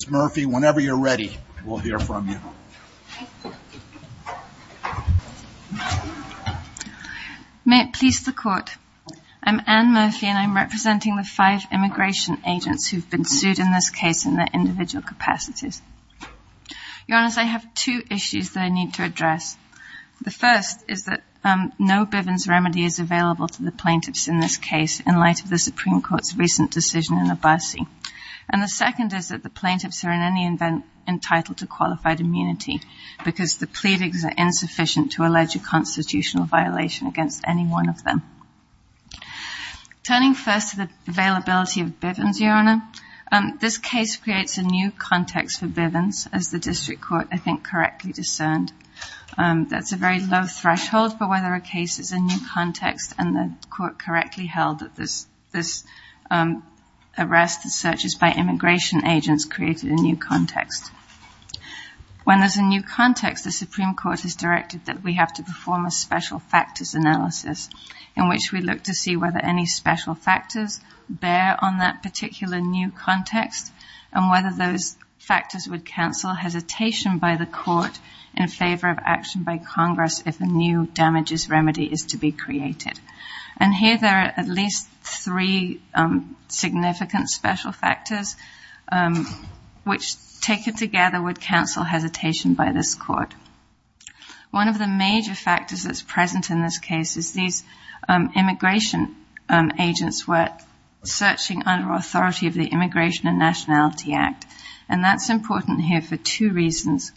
Ms. Murphy, whenever you're ready, we'll hear from you. May it please the Court, I'm Anne Murphy and I'm representing the five immigration agents who've been sued in this case in their individual capacities. Your Honours, I have two issues that I need to address. The first is that no Bivens remedy is available to the plaintiffs in this case in light of the Supreme Court's recent decision in Abbasi. And the second is that the plaintiffs are in any event entitled to qualified immunity because the pleadings are insufficient to allege a constitutional violation against any one of them. Turning first to the availability of Bivens, Your Honour, this case creates a new context for Bivens, as the District Court, I think, correctly discerned. That's a very low threshold for whether a case is a new context, and the Court correctly held that this arrest and searches by immigration agents created a new context. When there's a new context, the Supreme Court has directed that we have to perform a special factors analysis in which we look to see whether any special factors bear on that particular new context and whether those factors would cancel hesitation by the Court in favor of action by Congress if a new damages remedy is to be created. And here there are at least three significant special factors which, taken together, would cancel hesitation by this Court. One of the major factors that's present in this case is these immigration agents were searching under authority of the Immigration and Nationality Act, and that's important here for two reasons.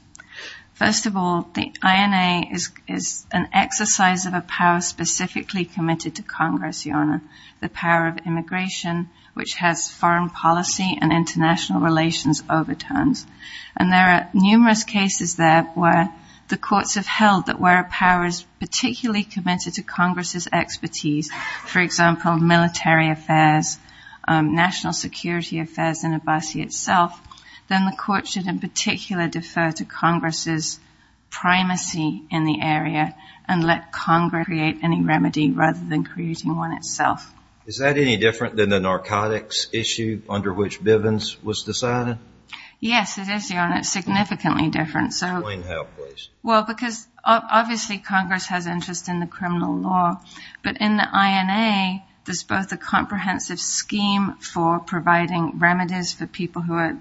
First of all, the INA is an exercise of a power specifically committed to Congress, Your Honour, the power of immigration, which has foreign policy and international relations overtones. And there are numerous cases there where the courts have held that where a power is particularly committed to Congress's expertise, for example, military affairs, national security affairs in Abbasi itself, then the Court should in particular defer to Congress's primacy in the area and let Congress create any remedy rather than creating one itself. Is that any different than the narcotics issue under which Bivens was decided? Yes, it is, Your Honour, significantly different. Explain how, please. Well, because obviously Congress has interest in the criminal law, but in the INA there's both a comprehensive scheme for providing remedies for people who are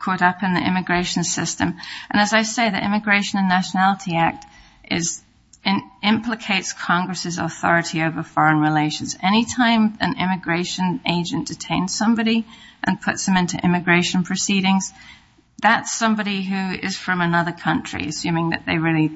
caught up in the immigration system. And as I say, the Immigration and Nationality Act implicates Congress's authority over foreign relations. Any time an immigration agent detains somebody and puts them into immigration proceedings, that's somebody who is from another country, assuming that they really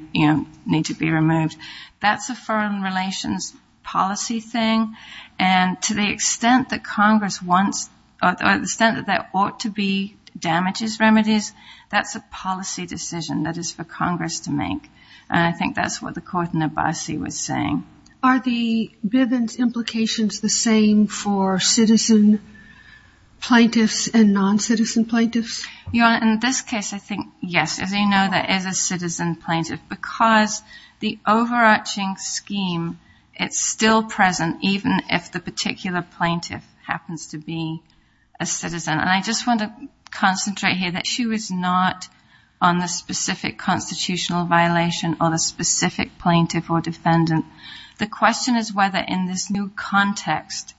need to be removed. That's a foreign relations policy thing, and to the extent that Congress wants or to the extent that there ought to be damages remedies, that's a policy decision that is for Congress to make. And I think that's what the Court in Abbasi was saying. Are the Bivens implications the same for citizen plaintiffs and non-citizen plaintiffs? Your Honour, in this case I think, yes, as you know, there is a citizen plaintiff because the overarching scheme, it's still present even if the particular plaintiff happens to be a citizen. And I just want to concentrate here that she was not on the specific constitutional violation or the specific plaintiff or defendant. The question is whether in this new context,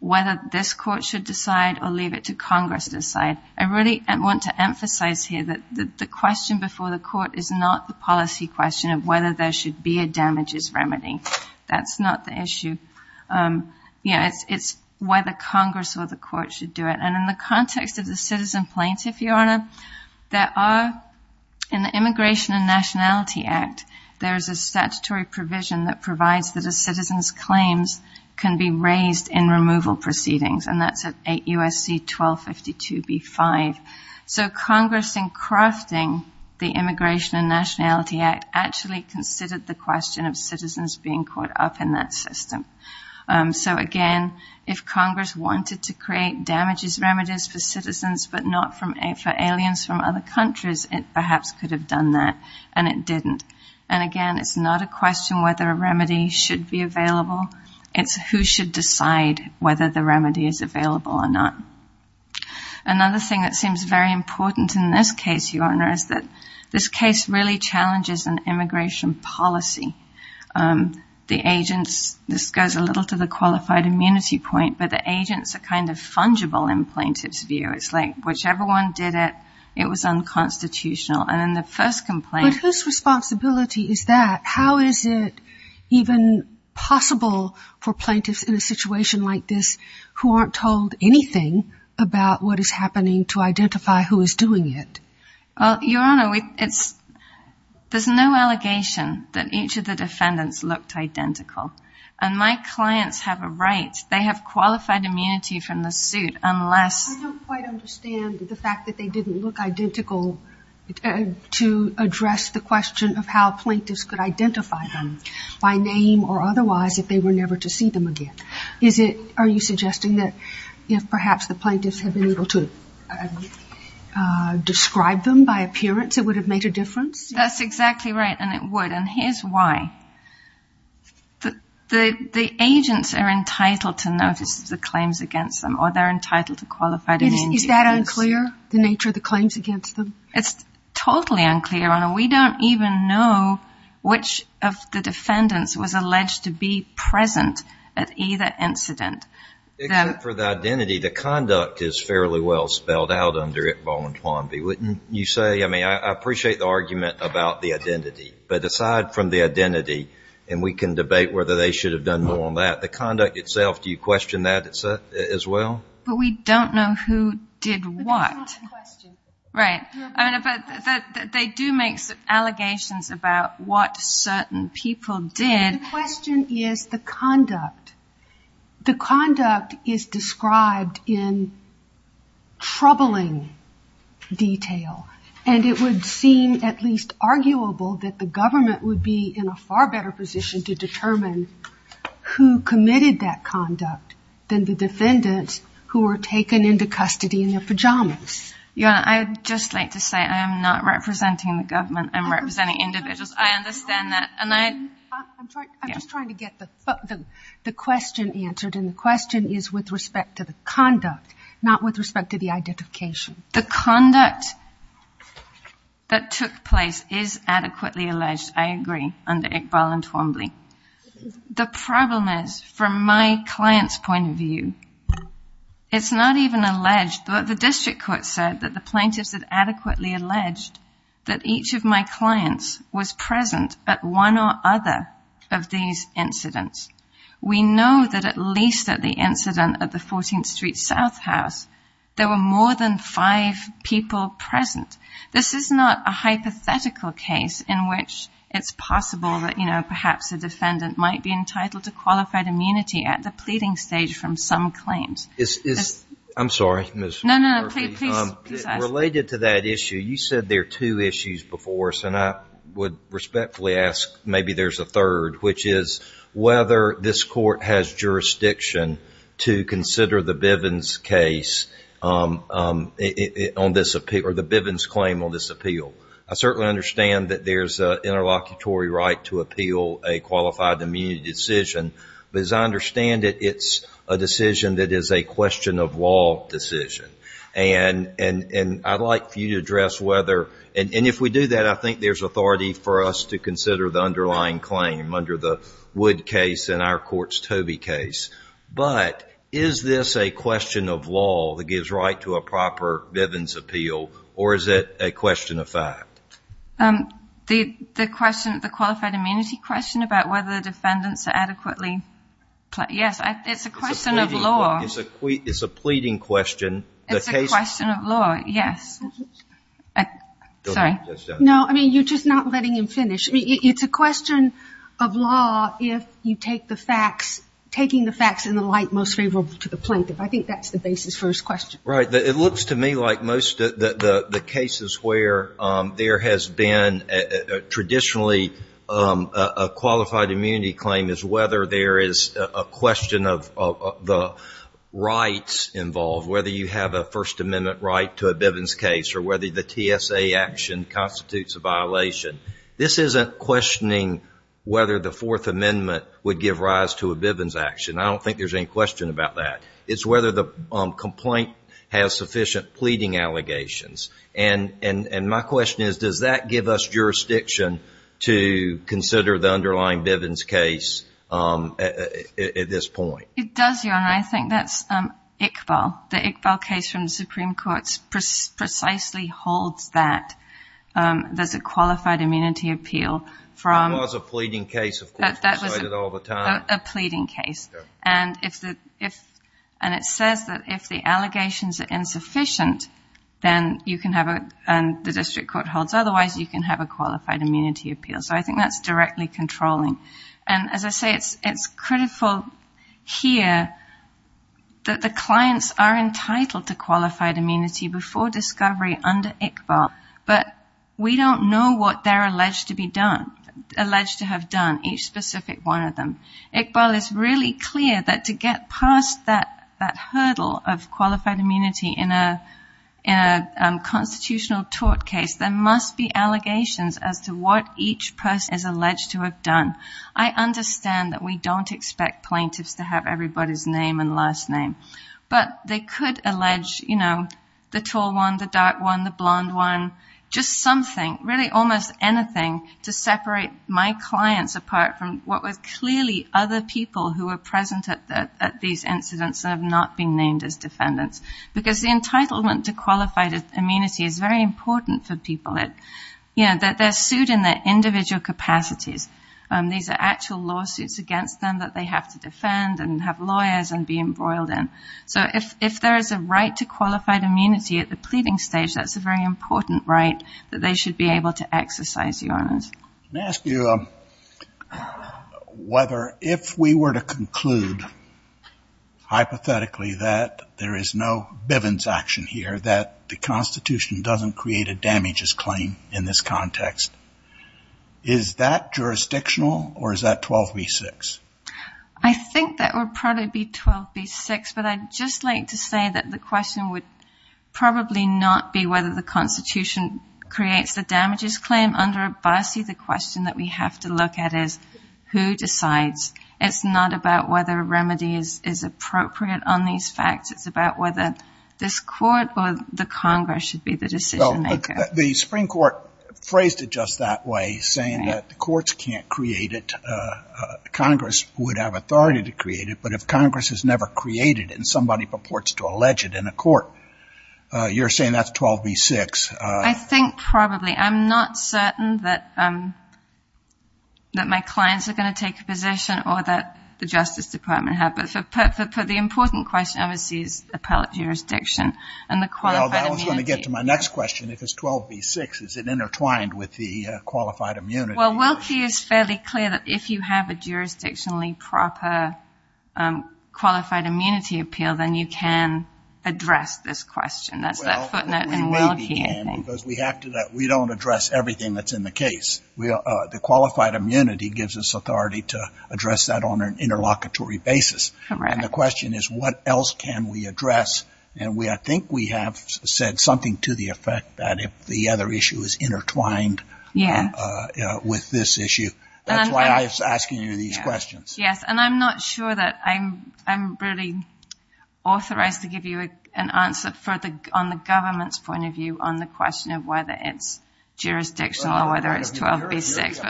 whether this Court should decide or leave it to Congress to decide. I really want to emphasize here that the question before the Court is not the policy question of whether there should be a damages remedy. That's not the issue. It's whether Congress or the Court should do it. And in the context of the citizen plaintiff, Your Honour, there are, in the Immigration and Nationality Act, there is a statutory provision that provides that a citizen's claims can be raised in removal proceedings, and that's at 8 U.S.C. 1252b-5. So Congress, in crafting the Immigration and Nationality Act, actually considered the question of citizens being caught up in that system. So again, if Congress wanted to create damages remedies for citizens but not for aliens from other countries, it perhaps could have done that, and it didn't. And again, it's not a question whether a remedy should be available. It's who should decide whether the remedy is available or not. Another thing that seems very important in this case, Your Honour, is that this case really challenges an immigration policy. The agents, this goes a little to the qualified immunity point, but the agents are kind of fungible in plaintiff's view. It's like whichever one did it, it was unconstitutional. And in the first complaint... But whose responsibility is that? How is it even possible for plaintiffs in a situation like this who aren't told anything about what is happening to identify who is doing it? Well, Your Honour, there's no allegation that each of the defendants looked identical. And my clients have a right. They have qualified immunity from the suit unless... I don't quite understand the fact that they didn't look identical to address the question of how plaintiffs could identify them by name or otherwise if they were never to see them again. Are you suggesting that if perhaps the plaintiffs had been able to describe them by appearance, it would have made a difference? That's exactly right, and it would. And here's why. The agents are entitled to notice the claims against them or they're entitled to qualified immunity. Is that unclear, the nature of the claims against them? It's totally unclear, Your Honour. We don't even know which of the defendants was alleged to be present at either incident. Except for the identity, the conduct is fairly well spelled out under it voluntarily, wouldn't you say? I mean, I appreciate the argument about the identity, but aside from the identity, and we can debate whether they should have done more on that, the conduct itself, do you question that as well? But we don't know who did what. But that's not the question. Right. They do make allegations about what certain people did. The question is the conduct. The conduct is described in troubling detail, and it would seem at least arguable that the government would be in a far better position to determine who committed that conduct than the defendants who were taken into custody in their pajamas. Your Honour, I would just like to say I am not representing the government. I'm representing individuals. I understand that. I'm just trying to get the question answered, and the question is with respect to the conduct, not with respect to the identification. The conduct that took place is adequately alleged, I agree, under Iqbal and Twombly. The problem is, from my client's point of view, it's not even alleged. The district court said that the plaintiffs had adequately alleged that each of my clients was present at one or other of these incidents. We know that at least at the incident at the 14th Street South House, there were more than five people present. This is not a hypothetical case in which it's possible that, you know, perhaps a defendant might be entitled to qualified immunity at the pleading stage from some claims. I'm sorry, Ms. Murphy. No, no, please ask. Related to that issue, you said there are two issues before us, and I would respectfully ask maybe there's a third, which is whether this court has jurisdiction to consider the Bivens case on this appeal or the Bivens claim on this appeal. I certainly understand that there's an interlocutory right to appeal a qualified immunity decision, but as I understand it, it's a decision that is a question of law decision. And I'd like for you to address whether, and if we do that, I think there's authority for us to consider the underlying claim under the Wood case and our court's Tobey case. But is this a question of law that gives right to a proper Bivens appeal, or is it a question of fact? The question, the qualified immunity question about whether the defendants are adequately, yes, it's a question of law. It's a pleading question. It's a question of law, yes. Sorry. No, I mean, you're just not letting him finish. It's a question of law if you take the facts, taking the facts in the light most favorable to the plaintiff. I think that's the basis for his question. Right. It looks to me like most of the cases where there has been traditionally a qualified immunity claim is whether there is a question of the rights involved, whether you have a First Amendment right to a Bivens case or whether the TSA action constitutes a violation. This isn't questioning whether the Fourth Amendment would give rise to a Bivens action. I don't think there's any question about that. It's whether the complaint has sufficient pleading allegations. And my question is, does that give us jurisdiction to consider the underlying Bivens case at this point? It does, Your Honor. I think that's Iqbal. The Iqbal case from the Supreme Court precisely holds that there's a qualified immunity appeal. That was a pleading case, of course. We cite it all the time. That was a pleading case. And it says that if the allegations are insufficient and the district court holds otherwise, you can have a qualified immunity appeal. So I think that's directly controlling. And as I say, it's critical here that the clients are entitled to qualified immunity before discovery under Iqbal, but we don't know what they're alleged to have done, each specific one of them. Iqbal is really clear that to get past that hurdle of qualified immunity in a constitutional tort case, there must be allegations as to what each person is alleged to have done. I understand that we don't expect plaintiffs to have everybody's name and last name, but they could allege the tall one, the dark one, the blonde one, just something, really almost anything to separate my clients apart from what was clearly other people who were present at these incidents and have not been named as defendants. Because the entitlement to qualified immunity is very important for people. They're sued in their individual capacities. These are actual lawsuits against them that they have to defend and have lawyers and be embroiled in. So if there is a right to qualified immunity at the pleading stage, that's a very important right that they should be able to exercise, Your Honors. Let me ask you whether if we were to conclude hypothetically that there is no Bivens action here, that the Constitution doesn't create a damages claim in this context, is that jurisdictional or is that 12b-6? I think that would probably be 12b-6, but I'd just like to say that the question would probably not be whether the Constitution creates the damages claim. Under Abbasi, the question that we have to look at is who decides. It's not about whether a remedy is appropriate on these facts. It's about whether this court or the Congress should be the decision-maker. The Supreme Court phrased it just that way, saying that the courts can't create it. Congress would have authority to create it, but if Congress has never created it and somebody purports to allege it in a court, you're saying that's 12b-6. I think probably. I'm not certain that my clients are going to take a position or that the Justice Department have. But for the important question, I would say it's appellate jurisdiction and the qualified immunity. Well, that was going to get to my next question, if it's 12b-6. Is it intertwined with the qualified immunity? Well, Wilkie is fairly clear that if you have a jurisdictionally proper qualified immunity appeal, then you can address this question. That's that footnote in Wilkie, I think. Well, we may be, Ann, because we don't address everything that's in the case. The qualified immunity gives us authority to address that on an interlocutory basis. Correct. And the question is, what else can we address? And I think we have said something to the effect that if the other issue is intertwined with this issue. That's why I was asking you these questions. Yes, and I'm not sure that I'm really authorized to give you an answer on the government's point of view on the question of whether it's jurisdictional or whether it's 12b-6.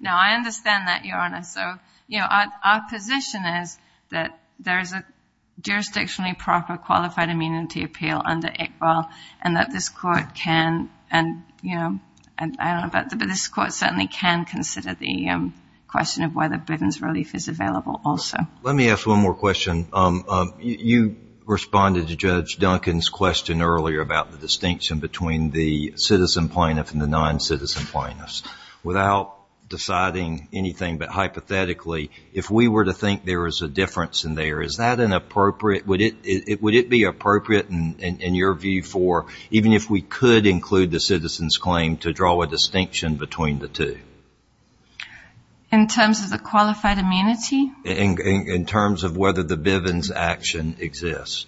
No, I understand that, Your Honor. So, you know, our position is that there is a jurisdictionally proper qualified immunity appeal under Iqbal and that this Court can, you know, I don't know about the others, but this Court certainly can consider the question of whether Bivens relief is available also. Let me ask one more question. You responded to Judge Duncan's question earlier about the distinction between the citizen plaintiff and the non-citizen plaintiffs. Without deciding anything but hypothetically, if we were to think there is a difference in there, would it be appropriate in your view for, even if we could include the citizen's claim, to draw a distinction between the two? In terms of the qualified immunity? In terms of whether the Bivens action exists.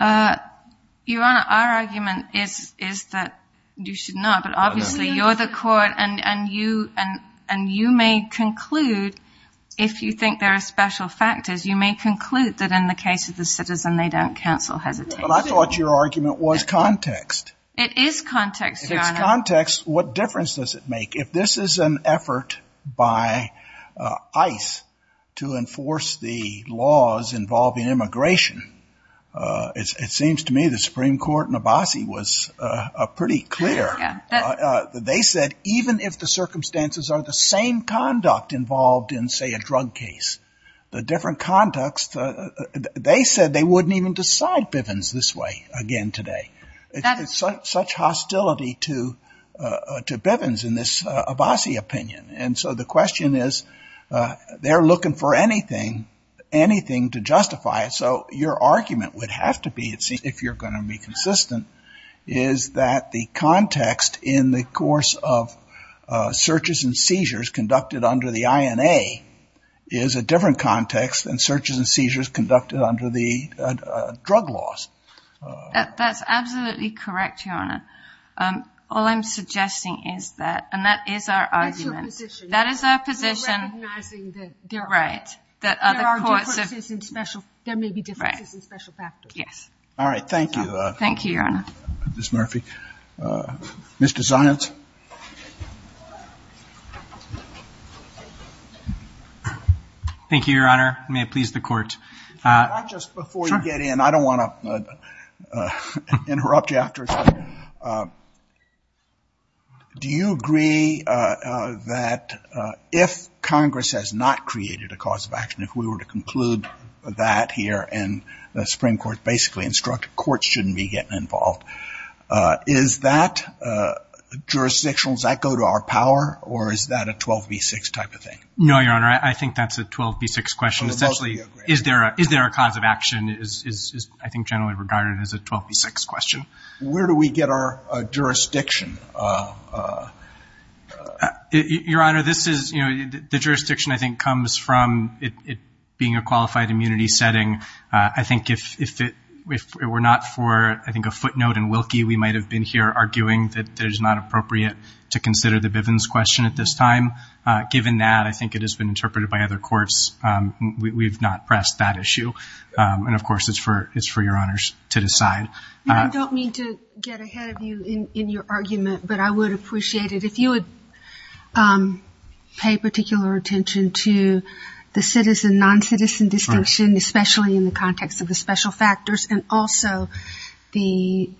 Your Honor, our argument is that you should not, but obviously you're the Court and you may conclude if you think there are special factors, you may conclude that in the case of the citizen they don't counsel hesitation. But I thought your argument was context. It is context, Your Honor. If it's context, what difference does it make? If this is an effort by ICE to enforce the laws involving immigration, it seems to me the Supreme Court in Abbasi was pretty clear. They said even if the circumstances are the same conduct involved in, say, a drug case, the different context, they said they wouldn't even decide Bivens this way again today. It's such hostility to Bivens in this Abbasi opinion. And so the question is they're looking for anything, anything to justify it. So your argument would have to be, if you're going to be consistent, is that the context in the course of searches and seizures conducted under the INA is a different context than searches and seizures conducted under the drug laws. That's absolutely correct, Your Honor. All I'm suggesting is that, and that is our argument. That's your position. That is our position. You're recognizing that there are differences in special factors. All right, thank you. Thank you, Your Honor. Ms. Murphy. Mr. Zients. Thank you, Your Honor. May it please the Court. Not just before you get in. I don't want to interrupt you after. Do you agree that if Congress has not created a cause of action, if we were to conclude that here and the Supreme Court basically instructed courts shouldn't be getting involved, is that jurisdictional? Does that go to our power, or is that a 12B6 type of thing? No, Your Honor. I think that's a 12B6 question. Essentially, is there a cause of action is, I think, generally regarded as a 12B6 question. Where do we get our jurisdiction? Your Honor, this is, you know, the jurisdiction I think comes from it being a qualified immunity setting. I think if it were not for, I think, a footnote in Wilkie, we might have been here arguing that it is not appropriate to consider the Bivens question at this time. Given that, I think it has been interpreted by other courts, we've not pressed that issue. And, of course, it's for Your Honors to decide. I don't mean to get ahead of you in your argument, but I would appreciate it. If you would pay particular attention to the citizen-noncitizen distinction, especially in the context of the special factors, and also the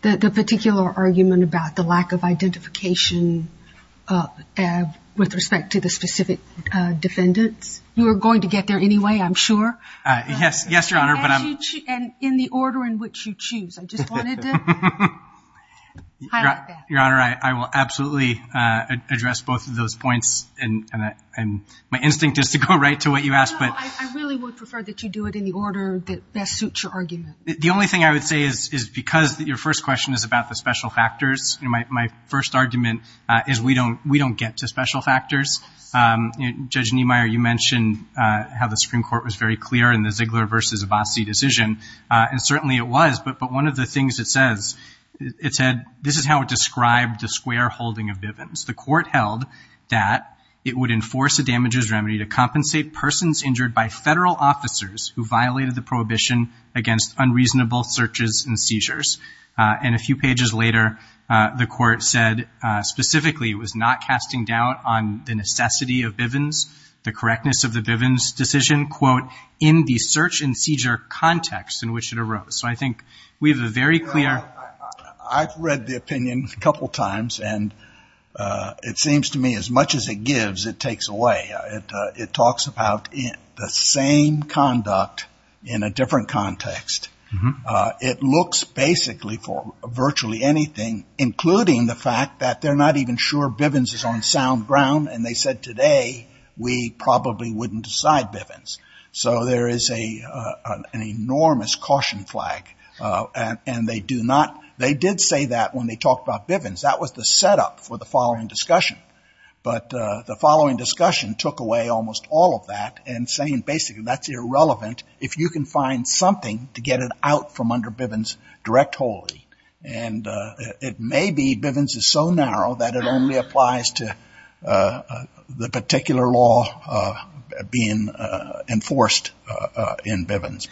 particular argument about the lack of identification with respect to the specific defendants. You are going to get there anyway, I'm sure. Yes, Your Honor. And in the order in which you choose. I just wanted to highlight that. Your Honor, I will absolutely address both of those points. My instinct is to go right to what you asked. No, I really would prefer that you do it in the order that best suits your argument. The only thing I would say is because your first question is about the special factors, my first argument is we don't get to special factors. Judge Niemeyer, you mentioned how the Supreme Court was very clear in the Ziegler v. Abbasi decision, and certainly it was. But one of the things it says, it said, this is how it described the square holding of Bivens. The court held that it would enforce a damages remedy to compensate persons injured by federal officers who violated the prohibition against unreasonable searches and seizures. And a few pages later the court said specifically it was not casting doubt on the necessity of Bivens, the correctness of the Bivens decision, quote, in the search and seizure context in which it arose. So I think we have a very clear. I've read the opinion a couple of times, and it seems to me as much as it gives it takes away. It talks about the same conduct in a different context. It looks basically for virtually anything, including the fact that they're not even sure Bivens is on sound ground, and they said today we probably wouldn't decide Bivens. So there is an enormous caution flag, and they do not, they did say that when they talked about Bivens. That was the setup for the following discussion. But the following discussion took away almost all of that and saying basically that's irrelevant if you can find something to get it out from under Bivens direct holding. And it may be Bivens is so narrow that it only applies to the particular law being enforced in Bivens.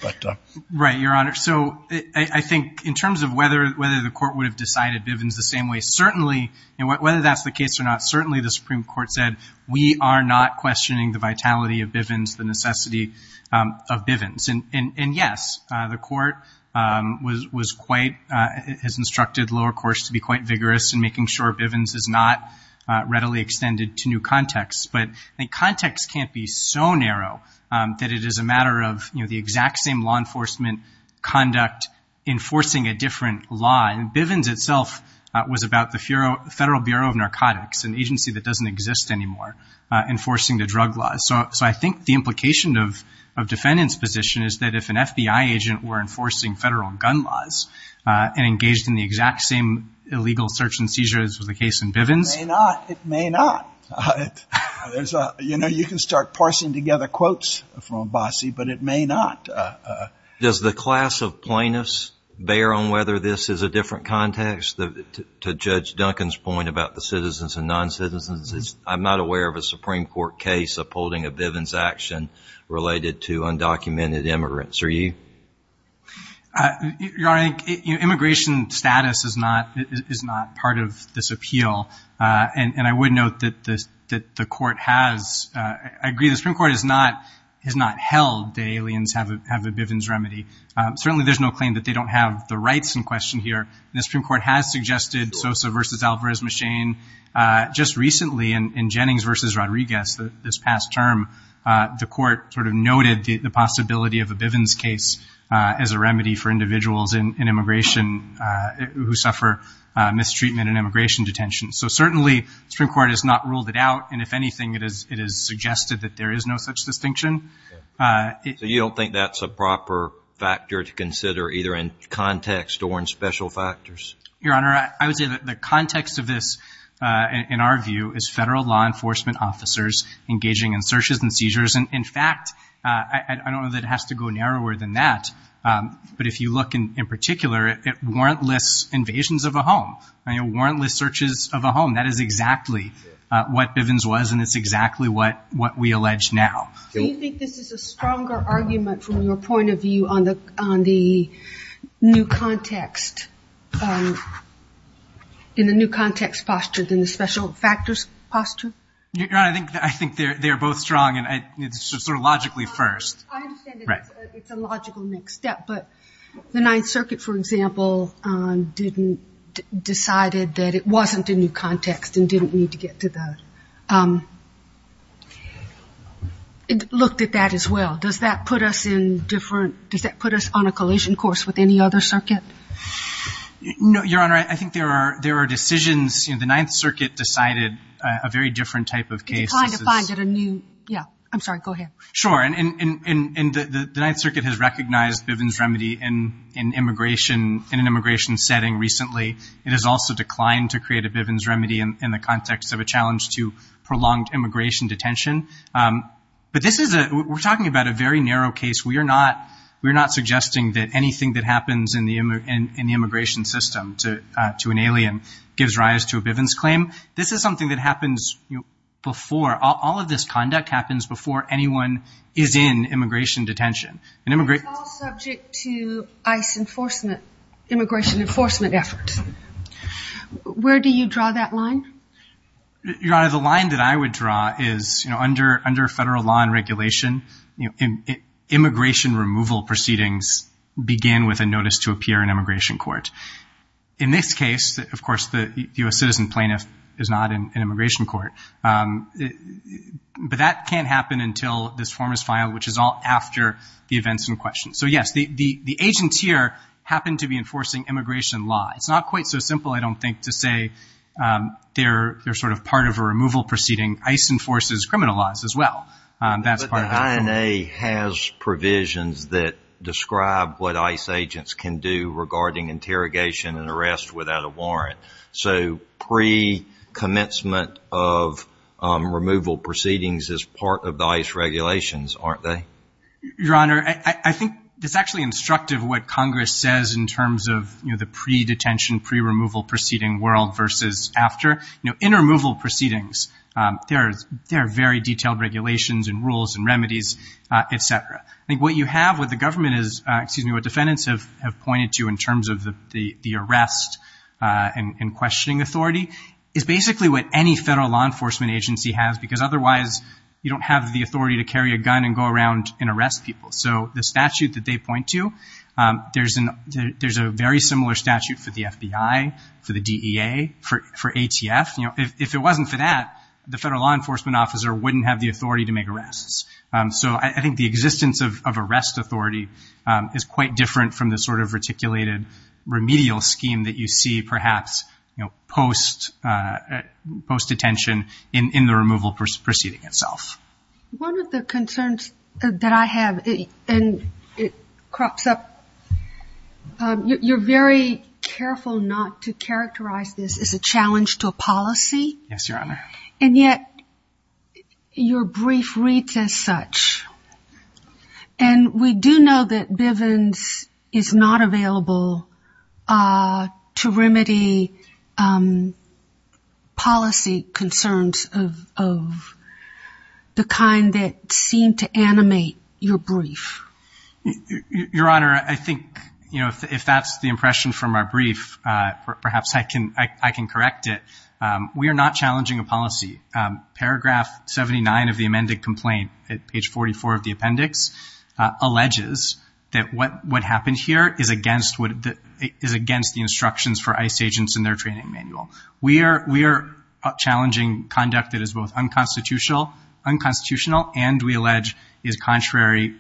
Right, Your Honor. So I think in terms of whether the court would have decided Bivens the same way, certainly, and whether that's the case or not, certainly the Supreme Court said we are not questioning the vitality of Bivens, the necessity of Bivens. And yes, the court was quite, has instructed lower courts to be quite vigorous in making sure Bivens is not readily extended to new contexts. enforcement conduct enforcing a different law. And Bivens itself was about the Federal Bureau of Narcotics, an agency that doesn't exist anymore, enforcing the drug laws. So I think the implication of defendant's position is that if an FBI agent were enforcing federal gun laws and engaged in the exact same illegal search and seizure as was the case in Bivens. It may not. It may not. Does the class of plaintiffs bear on whether this is a different context to Judge Duncan's point about the citizens and non-citizens? I'm not aware of a Supreme Court case upholding a Bivens action related to undocumented immigrants. Are you? Your Honor, immigration status is not part of this appeal. And I would note that the court has, I agree, the Supreme Court has not held that aliens have a Bivens remedy. Certainly there's no claim that they don't have the rights in question here. And the Supreme Court has suggested Sosa versus Alvarez-Machin. Just recently in Jennings versus Rodriguez, this past term, the court sort of noted the possibility of a Bivens case as a remedy for individuals in immigration who suffer mistreatment in immigration detention. So certainly the Supreme Court has not ruled it out. And if anything, it has suggested that there is no such distinction. So you don't think that's a proper factor to consider, either in context or in special factors? Your Honor, I would say that the context of this, in our view, is federal law enforcement officers engaging in searches and seizures. And, in fact, I don't know that it has to go narrower than that. But if you look in particular at warrantless invasions of a home, warrantless searches of a home, that is exactly what Bivens was and it's exactly what we allege now. Do you think this is a stronger argument, from your point of view, on the new context, in the new context posture, than the special factors posture? Your Honor, I think they're both strong. It's sort of logically first. I understand it's a logical next step. But the Ninth Circuit, for example, decided that it wasn't a new context and didn't need to get to that. It looked at that as well. Does that put us on a collision course with any other circuit? No, Your Honor. I think there are decisions. The Ninth Circuit decided a very different type of case. It declined to find it a new. Yeah, I'm sorry. Go ahead. Sure, and the Ninth Circuit has recognized Bivens' remedy in an immigration setting recently. It has also declined to create a Bivens remedy in the context of a challenge to prolonged immigration detention. But we're talking about a very narrow case. We are not suggesting that anything that happens in the immigration system to an alien gives rise to a Bivens claim. This is something that happens before. All of this conduct happens before anyone is in immigration detention. It's all subject to ICE enforcement, immigration enforcement efforts. Where do you draw that line? Your Honor, the line that I would draw is, you know, under federal law and regulation, immigration removal proceedings begin with a notice to appear in immigration court. In this case, of course, the U.S. citizen plaintiff is not in immigration court. But that can't happen until this form is filed, which is all after the events in question. So, yes, the agents here happen to be enforcing immigration law. It's not quite so simple, I don't think, to say they're sort of part of a removal proceeding. ICE enforces criminal laws as well. But the INA has provisions that describe what ICE agents can do regarding interrogation and arrest without a warrant. So pre-commencement of removal proceedings is part of the ICE regulations, aren't they? Your Honor, I think it's actually instructive what Congress says in terms of, you know, the pre-detention, pre-removal proceeding world versus after. You know, in removal proceedings, there are very detailed regulations and rules and remedies, et cetera. I think what you have with the government is, excuse me, what defendants have pointed to in terms of the arrest and questioning authority is basically what any federal law enforcement agency has because otherwise you don't have the authority to carry a gun and go around and arrest people. So the statute that they point to, there's a very similar statute for the FBI, for the DEA, for ATF. You know, if it wasn't for that, the federal law enforcement officer wouldn't have the authority to make arrests. So I think the existence of arrest authority is quite different from the sort of reticulated remedial scheme that you see perhaps, you know, post-detention in the removal proceeding itself. One of the concerns that I have, and it crops up, you're very careful not to characterize this as a challenge to a policy. Yes, Your Honor. And yet your brief reads as such. And we do know that Bivens is not available to remedy policy concerns of the kind that seem to animate your brief. Your Honor, I think, you know, if that's the impression from our brief, perhaps I can correct it. We are not challenging a policy. Paragraph 79 of the amended complaint, at page 44 of the appendix, alleges that what happened here is against the instructions for ICE agents in their training manual. We are challenging conduct that is both unconstitutional and, we allege, is contrary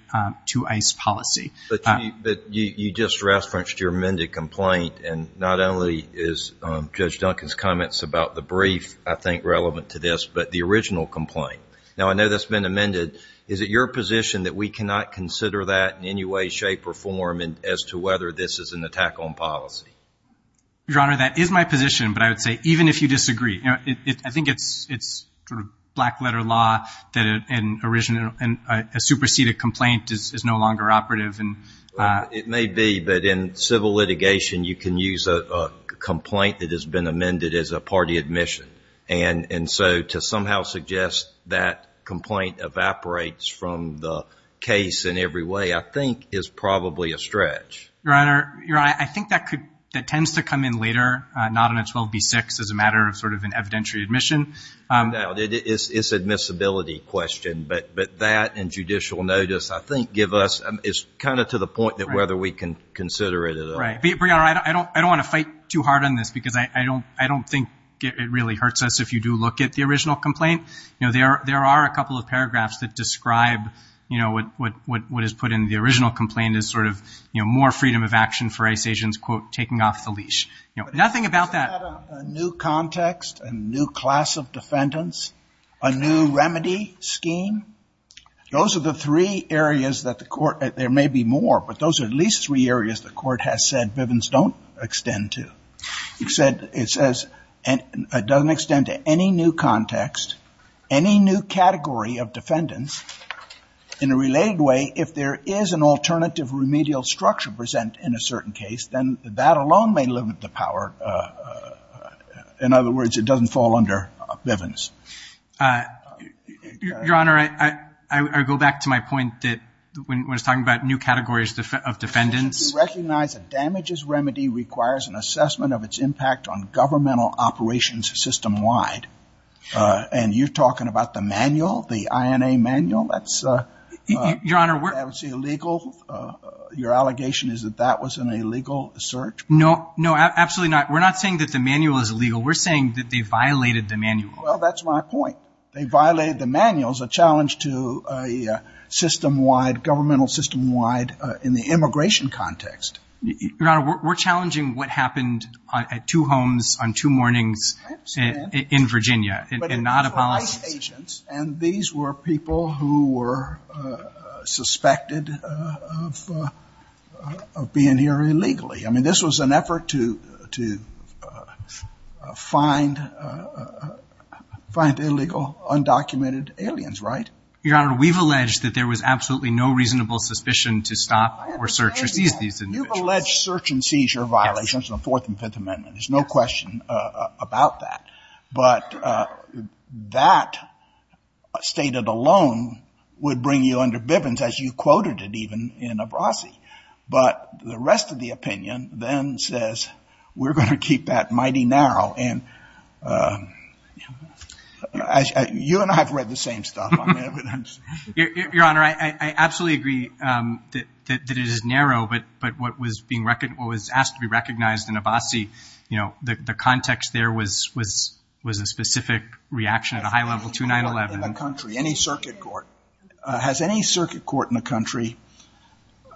to ICE policy. But you just referenced your amended complaint, and not only is Judge Duncan's comments about the brief, I think, relevant to this, but the original complaint. Now, I know that's been amended. Is it your position that we cannot consider that in any way, shape, or form as to whether this is an attack on policy? Your Honor, that is my position, but I would say even if you disagree. You know, I think it's sort of black-letter law that a superseded complaint is no longer operative. It may be, but in civil litigation, you can use a complaint that has been amended as a party admission. And so to somehow suggest that complaint evaporates from the case in every way, I think, is probably a stretch. Your Honor, I think that tends to come in later, not on a 12b-6, as a matter of sort of an evidentiary admission. No, it's an admissibility question. But that and judicial notice, I think, give us – it's kind of to the point that whether we can consider it at all. Right. But, Your Honor, I don't want to fight too hard on this because I don't think it really hurts us if you do look at the original complaint. You know, there are a couple of paragraphs that describe, you know, what is put in the original complaint as sort of, you know, more freedom of action for ICE agents, quote, taking off the leash. You know, nothing about that. But isn't that a new context, a new class of defendants, a new remedy scheme? Those are the three areas that the court – there may be more, but those are at least three areas the court has said Bivens don't extend to. It said – it says it doesn't extend to any new context, any new category of defendants. In a related way, if there is an alternative remedial structure present in a certain case, then that alone may limit the power. In other words, it doesn't fall under Bivens. Your Honor, I go back to my point that when I was talking about new categories of defendants. We recognize a damages remedy requires an assessment of its impact on governmental operations system-wide. And you're talking about the manual, the INA manual? That's illegal. Your allegation is that that was an illegal search? No, absolutely not. We're not saying that the manual is illegal. We're saying that they violated the manual. Well, that's my point. They violated the manual is a challenge to a system-wide, governmental system-wide, in the immigration context. Your Honor, we're challenging what happened at two homes on two mornings in Virginia, and not a policy. But they were ICE agents, and these were people who were suspected of being here illegally. I mean, this was an effort to find illegal, undocumented aliens, right? Your Honor, we've alleged that there was absolutely no reasonable suspicion to stop or search or seize these individuals. You've alleged search and seizure violations in the Fourth and Fifth Amendments. There's no question about that. But that stated alone would bring you under Bivens, as you quoted it even in Abrasi. But the rest of the opinion then says we're going to keep that mighty narrow. And you and I have read the same stuff. Your Honor, I absolutely agree that it is narrow. But what was asked to be recognized in Abrasi, you know, the context there was a specific reaction at a high level to 9-11. In the country, any circuit court, has any circuit court in the country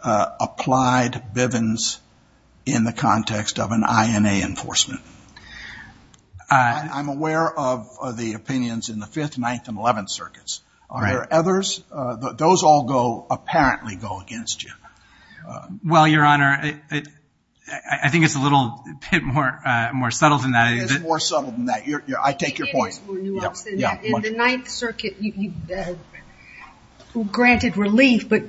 applied Bivens in the context of an INA enforcement? I'm aware of the opinions in the Fifth, Ninth, and Eleventh Circuits. Are there others? Those all go, apparently go against you. Well, Your Honor, I think it's a little bit more subtle than that. It is more subtle than that. I take your point. It is more nuanced than that. In the Ninth Circuit, granted relief, but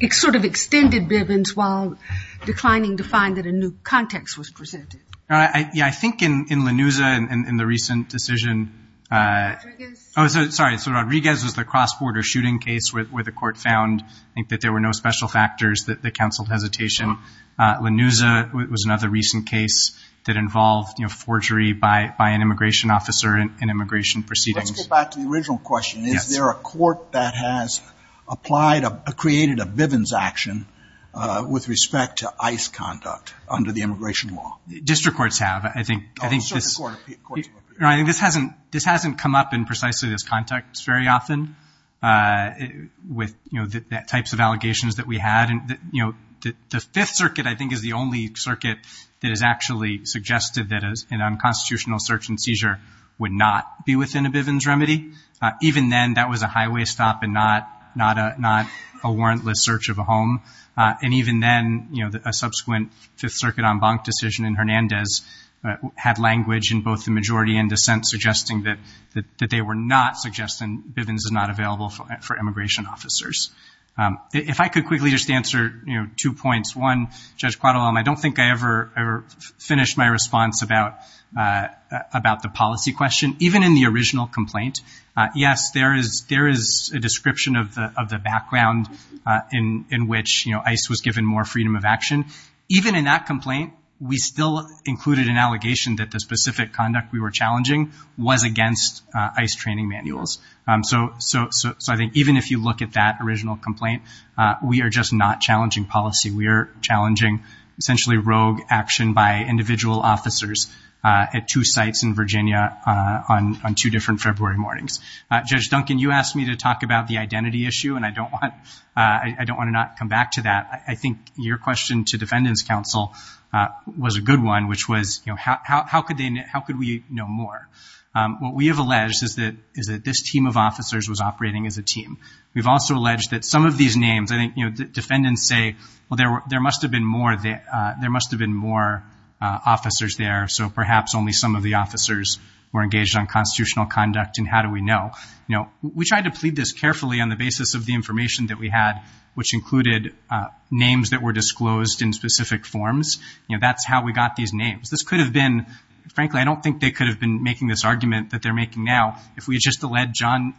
it sort of extended Bivens while declining to find that a new context was presented. Yeah, I think in Lanuza in the recent decision. Rodriguez? Oh, sorry. So Rodriguez was the cross-border shooting case where the court found, I think, that there were no special factors that counseled hesitation. Lanuza was another recent case that involved forgery by an immigration officer in immigration proceedings. Let's go back to the original question. Is there a court that has created a Bivens action with respect to ICE conduct under the immigration law? District courts have. I think this hasn't come up in precisely this context very often with the types of allegations that we had. The Fifth Circuit, I think, is the only circuit that has actually suggested that an unconstitutional search and seizure would not be within a Bivens remedy. Even then, that was a highway stop and not a warrantless search of a home. And even then, a subsequent Fifth Circuit en banc decision in Hernandez had language in both the majority and dissent suggesting that they were not suggesting Bivens is not available for immigration officers. If I could quickly just answer two points. One, Judge Quattle, I don't think I ever finished my response about the policy question. Even in the original complaint, yes, there is a description of the background in which ICE was given more freedom of action. Even in that complaint, we still included an allegation that the specific conduct we were challenging was against ICE training manuals. So I think even if you look at that original complaint, we are just not challenging policy. We are challenging essentially rogue action by individual officers at two sites in Virginia on two different February mornings. Judge Duncan, you asked me to talk about the identity issue, and I don't want to not come back to that. I think your question to defendants' counsel was a good one, which was how could we know more? What we have alleged is that this team of officers was operating as a team. We've also alleged that some of these names, I think, you know, defendants say, well, there must have been more officers there, so perhaps only some of the officers were engaged on constitutional conduct, and how do we know? You know, we tried to plead this carefully on the basis of the information that we had, which included names that were disclosed in specific forms. You know, that's how we got these names. This could have been, frankly, I don't think they could have been making this argument that they're making now. If we had just alleged John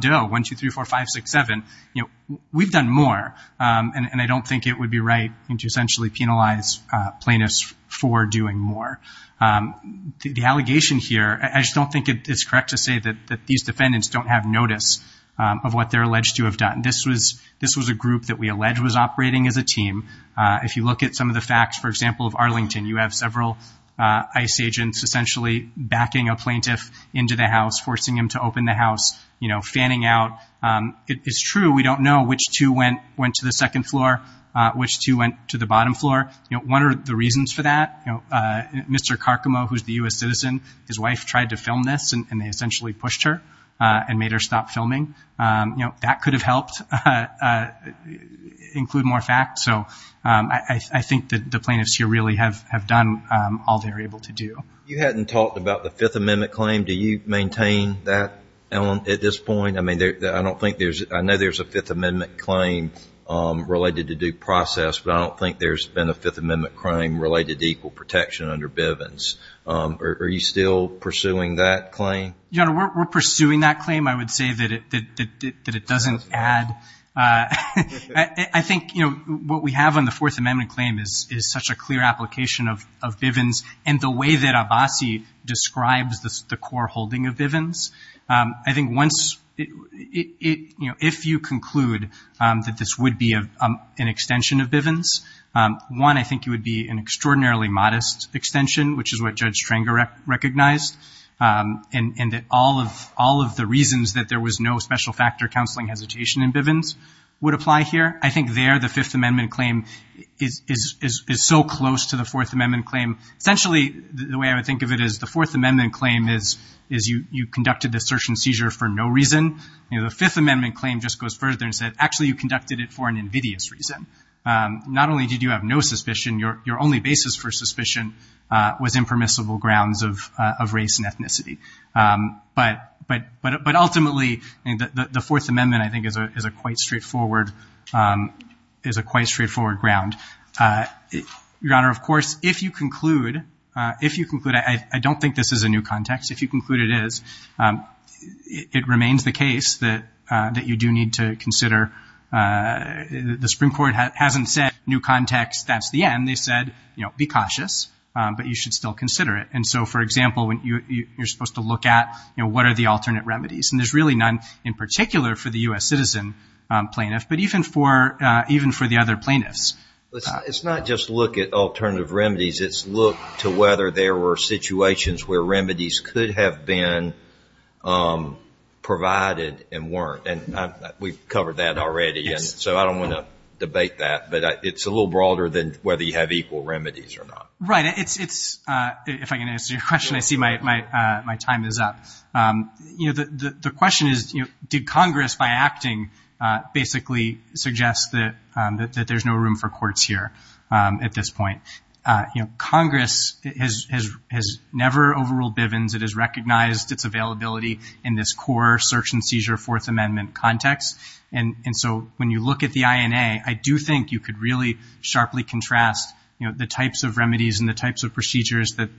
Doe, 1234567, you know, we've done more, and I don't think it would be right to essentially penalize plaintiffs for doing more. The allegation here, I just don't think it's correct to say that these defendants don't have notice of what they're alleged to have done. This was a group that we allege was operating as a team. If you look at some of the facts, for example, of Arlington, you have several ICE agents essentially backing a plaintiff into the house, forcing him to open the house, you know, fanning out. It's true, we don't know which two went to the second floor, which two went to the bottom floor. You know, one of the reasons for that, you know, Mr. Carcamo, who's the U.S. citizen, his wife tried to film this, and they essentially pushed her and made her stop filming. You know, that could have helped include more facts. So I think the plaintiffs here really have done all they're able to do. You hadn't talked about the Fifth Amendment claim. Do you maintain that at this point? I mean, I know there's a Fifth Amendment claim related to due process, but I don't think there's been a Fifth Amendment crime related to equal protection under Bivens. Are you still pursuing that claim? Your Honor, we're pursuing that claim. I would say that it doesn't add. I think, you know, what we have on the Fourth Amendment claim is such a clear application of Bivens and the way that Abbasi describes the core holding of Bivens. I think once it, you know, if you conclude that this would be an extension of Bivens, one, I think it would be an extraordinarily modest extension, which is what Judge Stranger recognized, and that all of the reasons that there was no special factor counseling hesitation in Bivens would apply here. I think there the Fifth Amendment claim is so close to the Fourth Amendment claim. Essentially, the way I would think of it is the Fourth Amendment claim is you conducted this search and seizure for no reason. You know, the Fifth Amendment claim just goes further and said actually you conducted it for an invidious reason. Not only did you have no suspicion, your only basis for suspicion was impermissible grounds of race and ethnicity. But ultimately, the Fourth Amendment, I think, is a quite straightforward ground. Your Honor, of course, if you conclude, if you conclude, I don't think this is a new context. If you conclude it is, it remains the case that you do need to consider. The Supreme Court hasn't said new context, that's the end. They said, you know, be cautious, but you should still consider it. And so, for example, you're supposed to look at, you know, what are the alternate remedies. And there's really none in particular for the U.S. citizen plaintiff, but even for the other plaintiffs. It's not just look at alternative remedies. It's look to whether there were situations where remedies could have been provided and weren't. And we've covered that already, and so I don't want to debate that. But it's a little broader than whether you have equal remedies or not. Right. It's, if I can answer your question, I see my time is up. You know, the question is, you know, did Congress by acting basically suggest that there's no room for courts here at this point? You know, Congress has never overruled Bivens. It has recognized its availability in this core search and seizure Fourth Amendment context. And so when you look at the INA, I do think you could really sharply contrast, you know, the types of remedies and the types of procedures that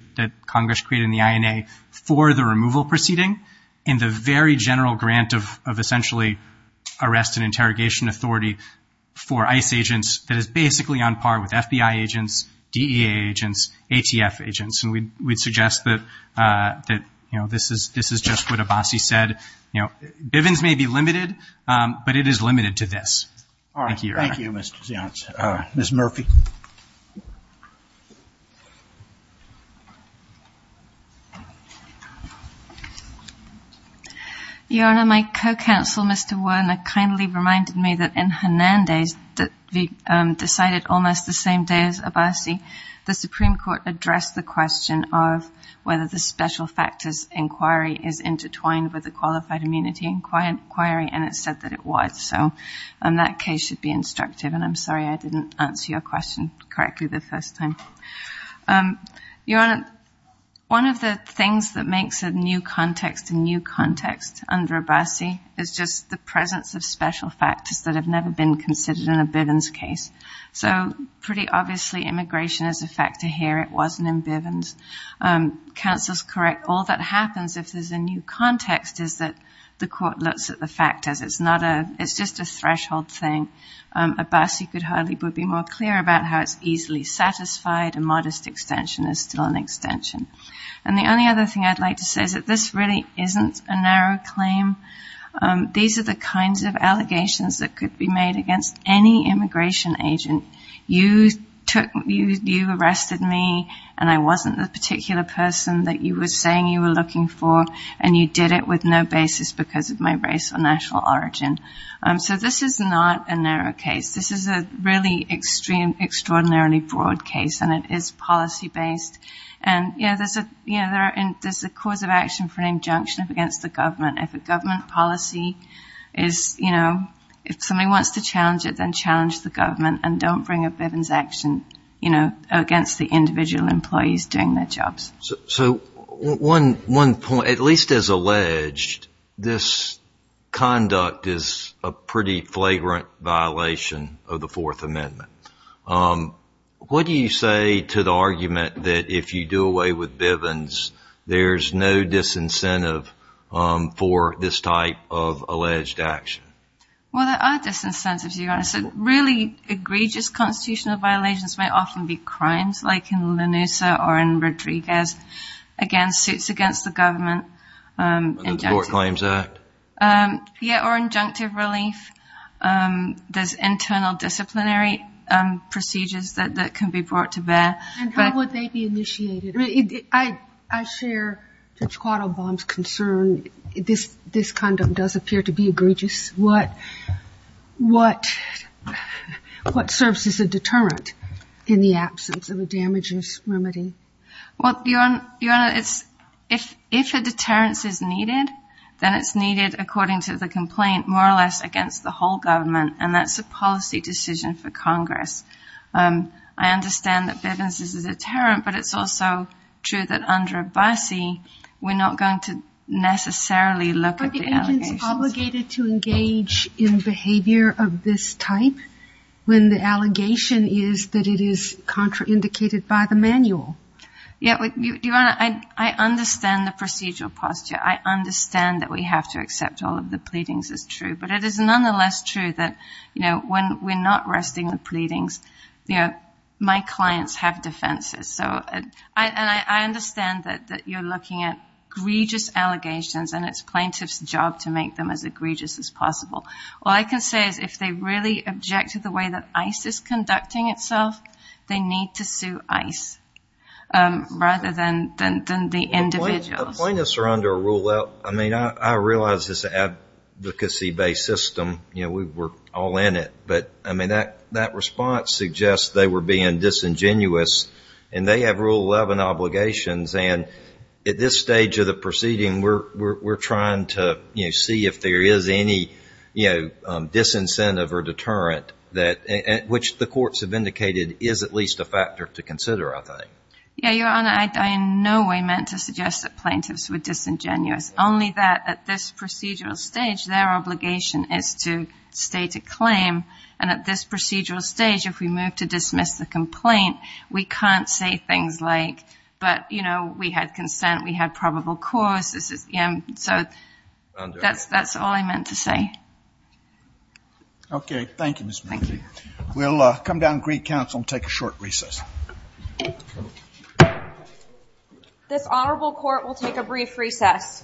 Congress created in the INA for the removal proceeding and the very general grant of essentially arrest and interrogation authority for ICE agents that is basically on par with FBI agents, DEA agents, ATF agents. And we'd suggest that, you know, this is just what Abbasi said. You know, Bivens may be limited, but it is limited to this. Thank you, Your Honor. All right. Thank you, Mr. Zients. Ms. Murphy. Your Honor, my co-counsel, Mr. Werner, kindly reminded me that in Hernandez, that we decided almost the same day as Abbasi, the Supreme Court addressed the question of whether the special factors inquiry is intertwined with a qualified immunity inquiry, and it said that it was. So that case should be instructive. And I'm sorry I didn't answer your question correctly the first time. Your Honor, one of the things that makes a new context a new context under Abbasi is just the presence of special factors that have never been considered in a Bivens case. So pretty obviously immigration is a factor here. It wasn't in Bivens. Counsel's correct. All that happens if there's a new context is that the court looks at the factors. It's just a threshold thing. Abbasi could hardly be more clear about how it's easily satisfied. A modest extension is still an extension. And the only other thing I'd like to say is that this really isn't a narrow claim. These are the kinds of allegations that could be made against any immigration agent. You arrested me, and I wasn't the particular person that you were saying you were looking for, and you did it with no basis because of my race or national origin. So this is not a narrow case. This is a really extraordinarily broad case, and it is policy-based. And, you know, there's a cause of action for an injunction against the government. If a government policy is, you know, if somebody wants to challenge it, then challenge the government and don't bring a Bivens action, you know, against the individual employees doing their jobs. So one point, at least as alleged, this conduct is a pretty flagrant violation of the Fourth Amendment. What do you say to the argument that if you do away with Bivens, there's no disincentive for this type of alleged action? Well, there are disincentives, to be honest. Really egregious constitutional violations may often be crimes like in Lanusa or in Rodriguez, again, suits against the government. The Court Claims Act? Yeah, or injunctive relief. There's internal disciplinary procedures that can be brought to bear. And how would they be initiated? I mean, I share Judge Quattlebaum's concern. This conduct does appear to be egregious. What serves as a deterrent in the absence of a damages remedy? Then it's needed, according to the complaint, more or less against the whole government, and that's a policy decision for Congress. I understand that Bivens is a deterrent, but it's also true that under Abbasi, we're not going to necessarily look at the allegations. Are the agents obligated to engage in behavior of this type when the allegation is that it is contraindicated by the manual? Yeah, I understand the procedural posture. I understand that we have to accept all of the pleadings as true, but it is nonetheless true that when we're not resting the pleadings, my clients have defenses. And I understand that you're looking at egregious allegations and it's plaintiff's job to make them as egregious as possible. All I can say is if they really object to the way that ICE is conducting itself, they need to sue ICE rather than the individuals. Plaintiffs are under a rule of, I mean, I realize it's an advocacy-based system. You know, we're all in it, but, I mean, that response suggests they were being disingenuous and they have Rule 11 obligations, and at this stage of the proceeding, we're trying to see if there is any disincentive or deterrent, which the courts have indicated is at least a factor to consider, I think. Yeah, Your Honor, I in no way meant to suggest that plaintiffs were disingenuous, only that at this procedural stage, their obligation is to state a claim, and at this procedural stage, if we move to dismiss the complaint, we can't say things like, but, you know, we had consent, we had probable cause. So that's all I meant to say. Thank you, Ms. Murphy. Thank you. We'll come down to Greek Council and take a short recess. This Honorable Court will take a brief recess.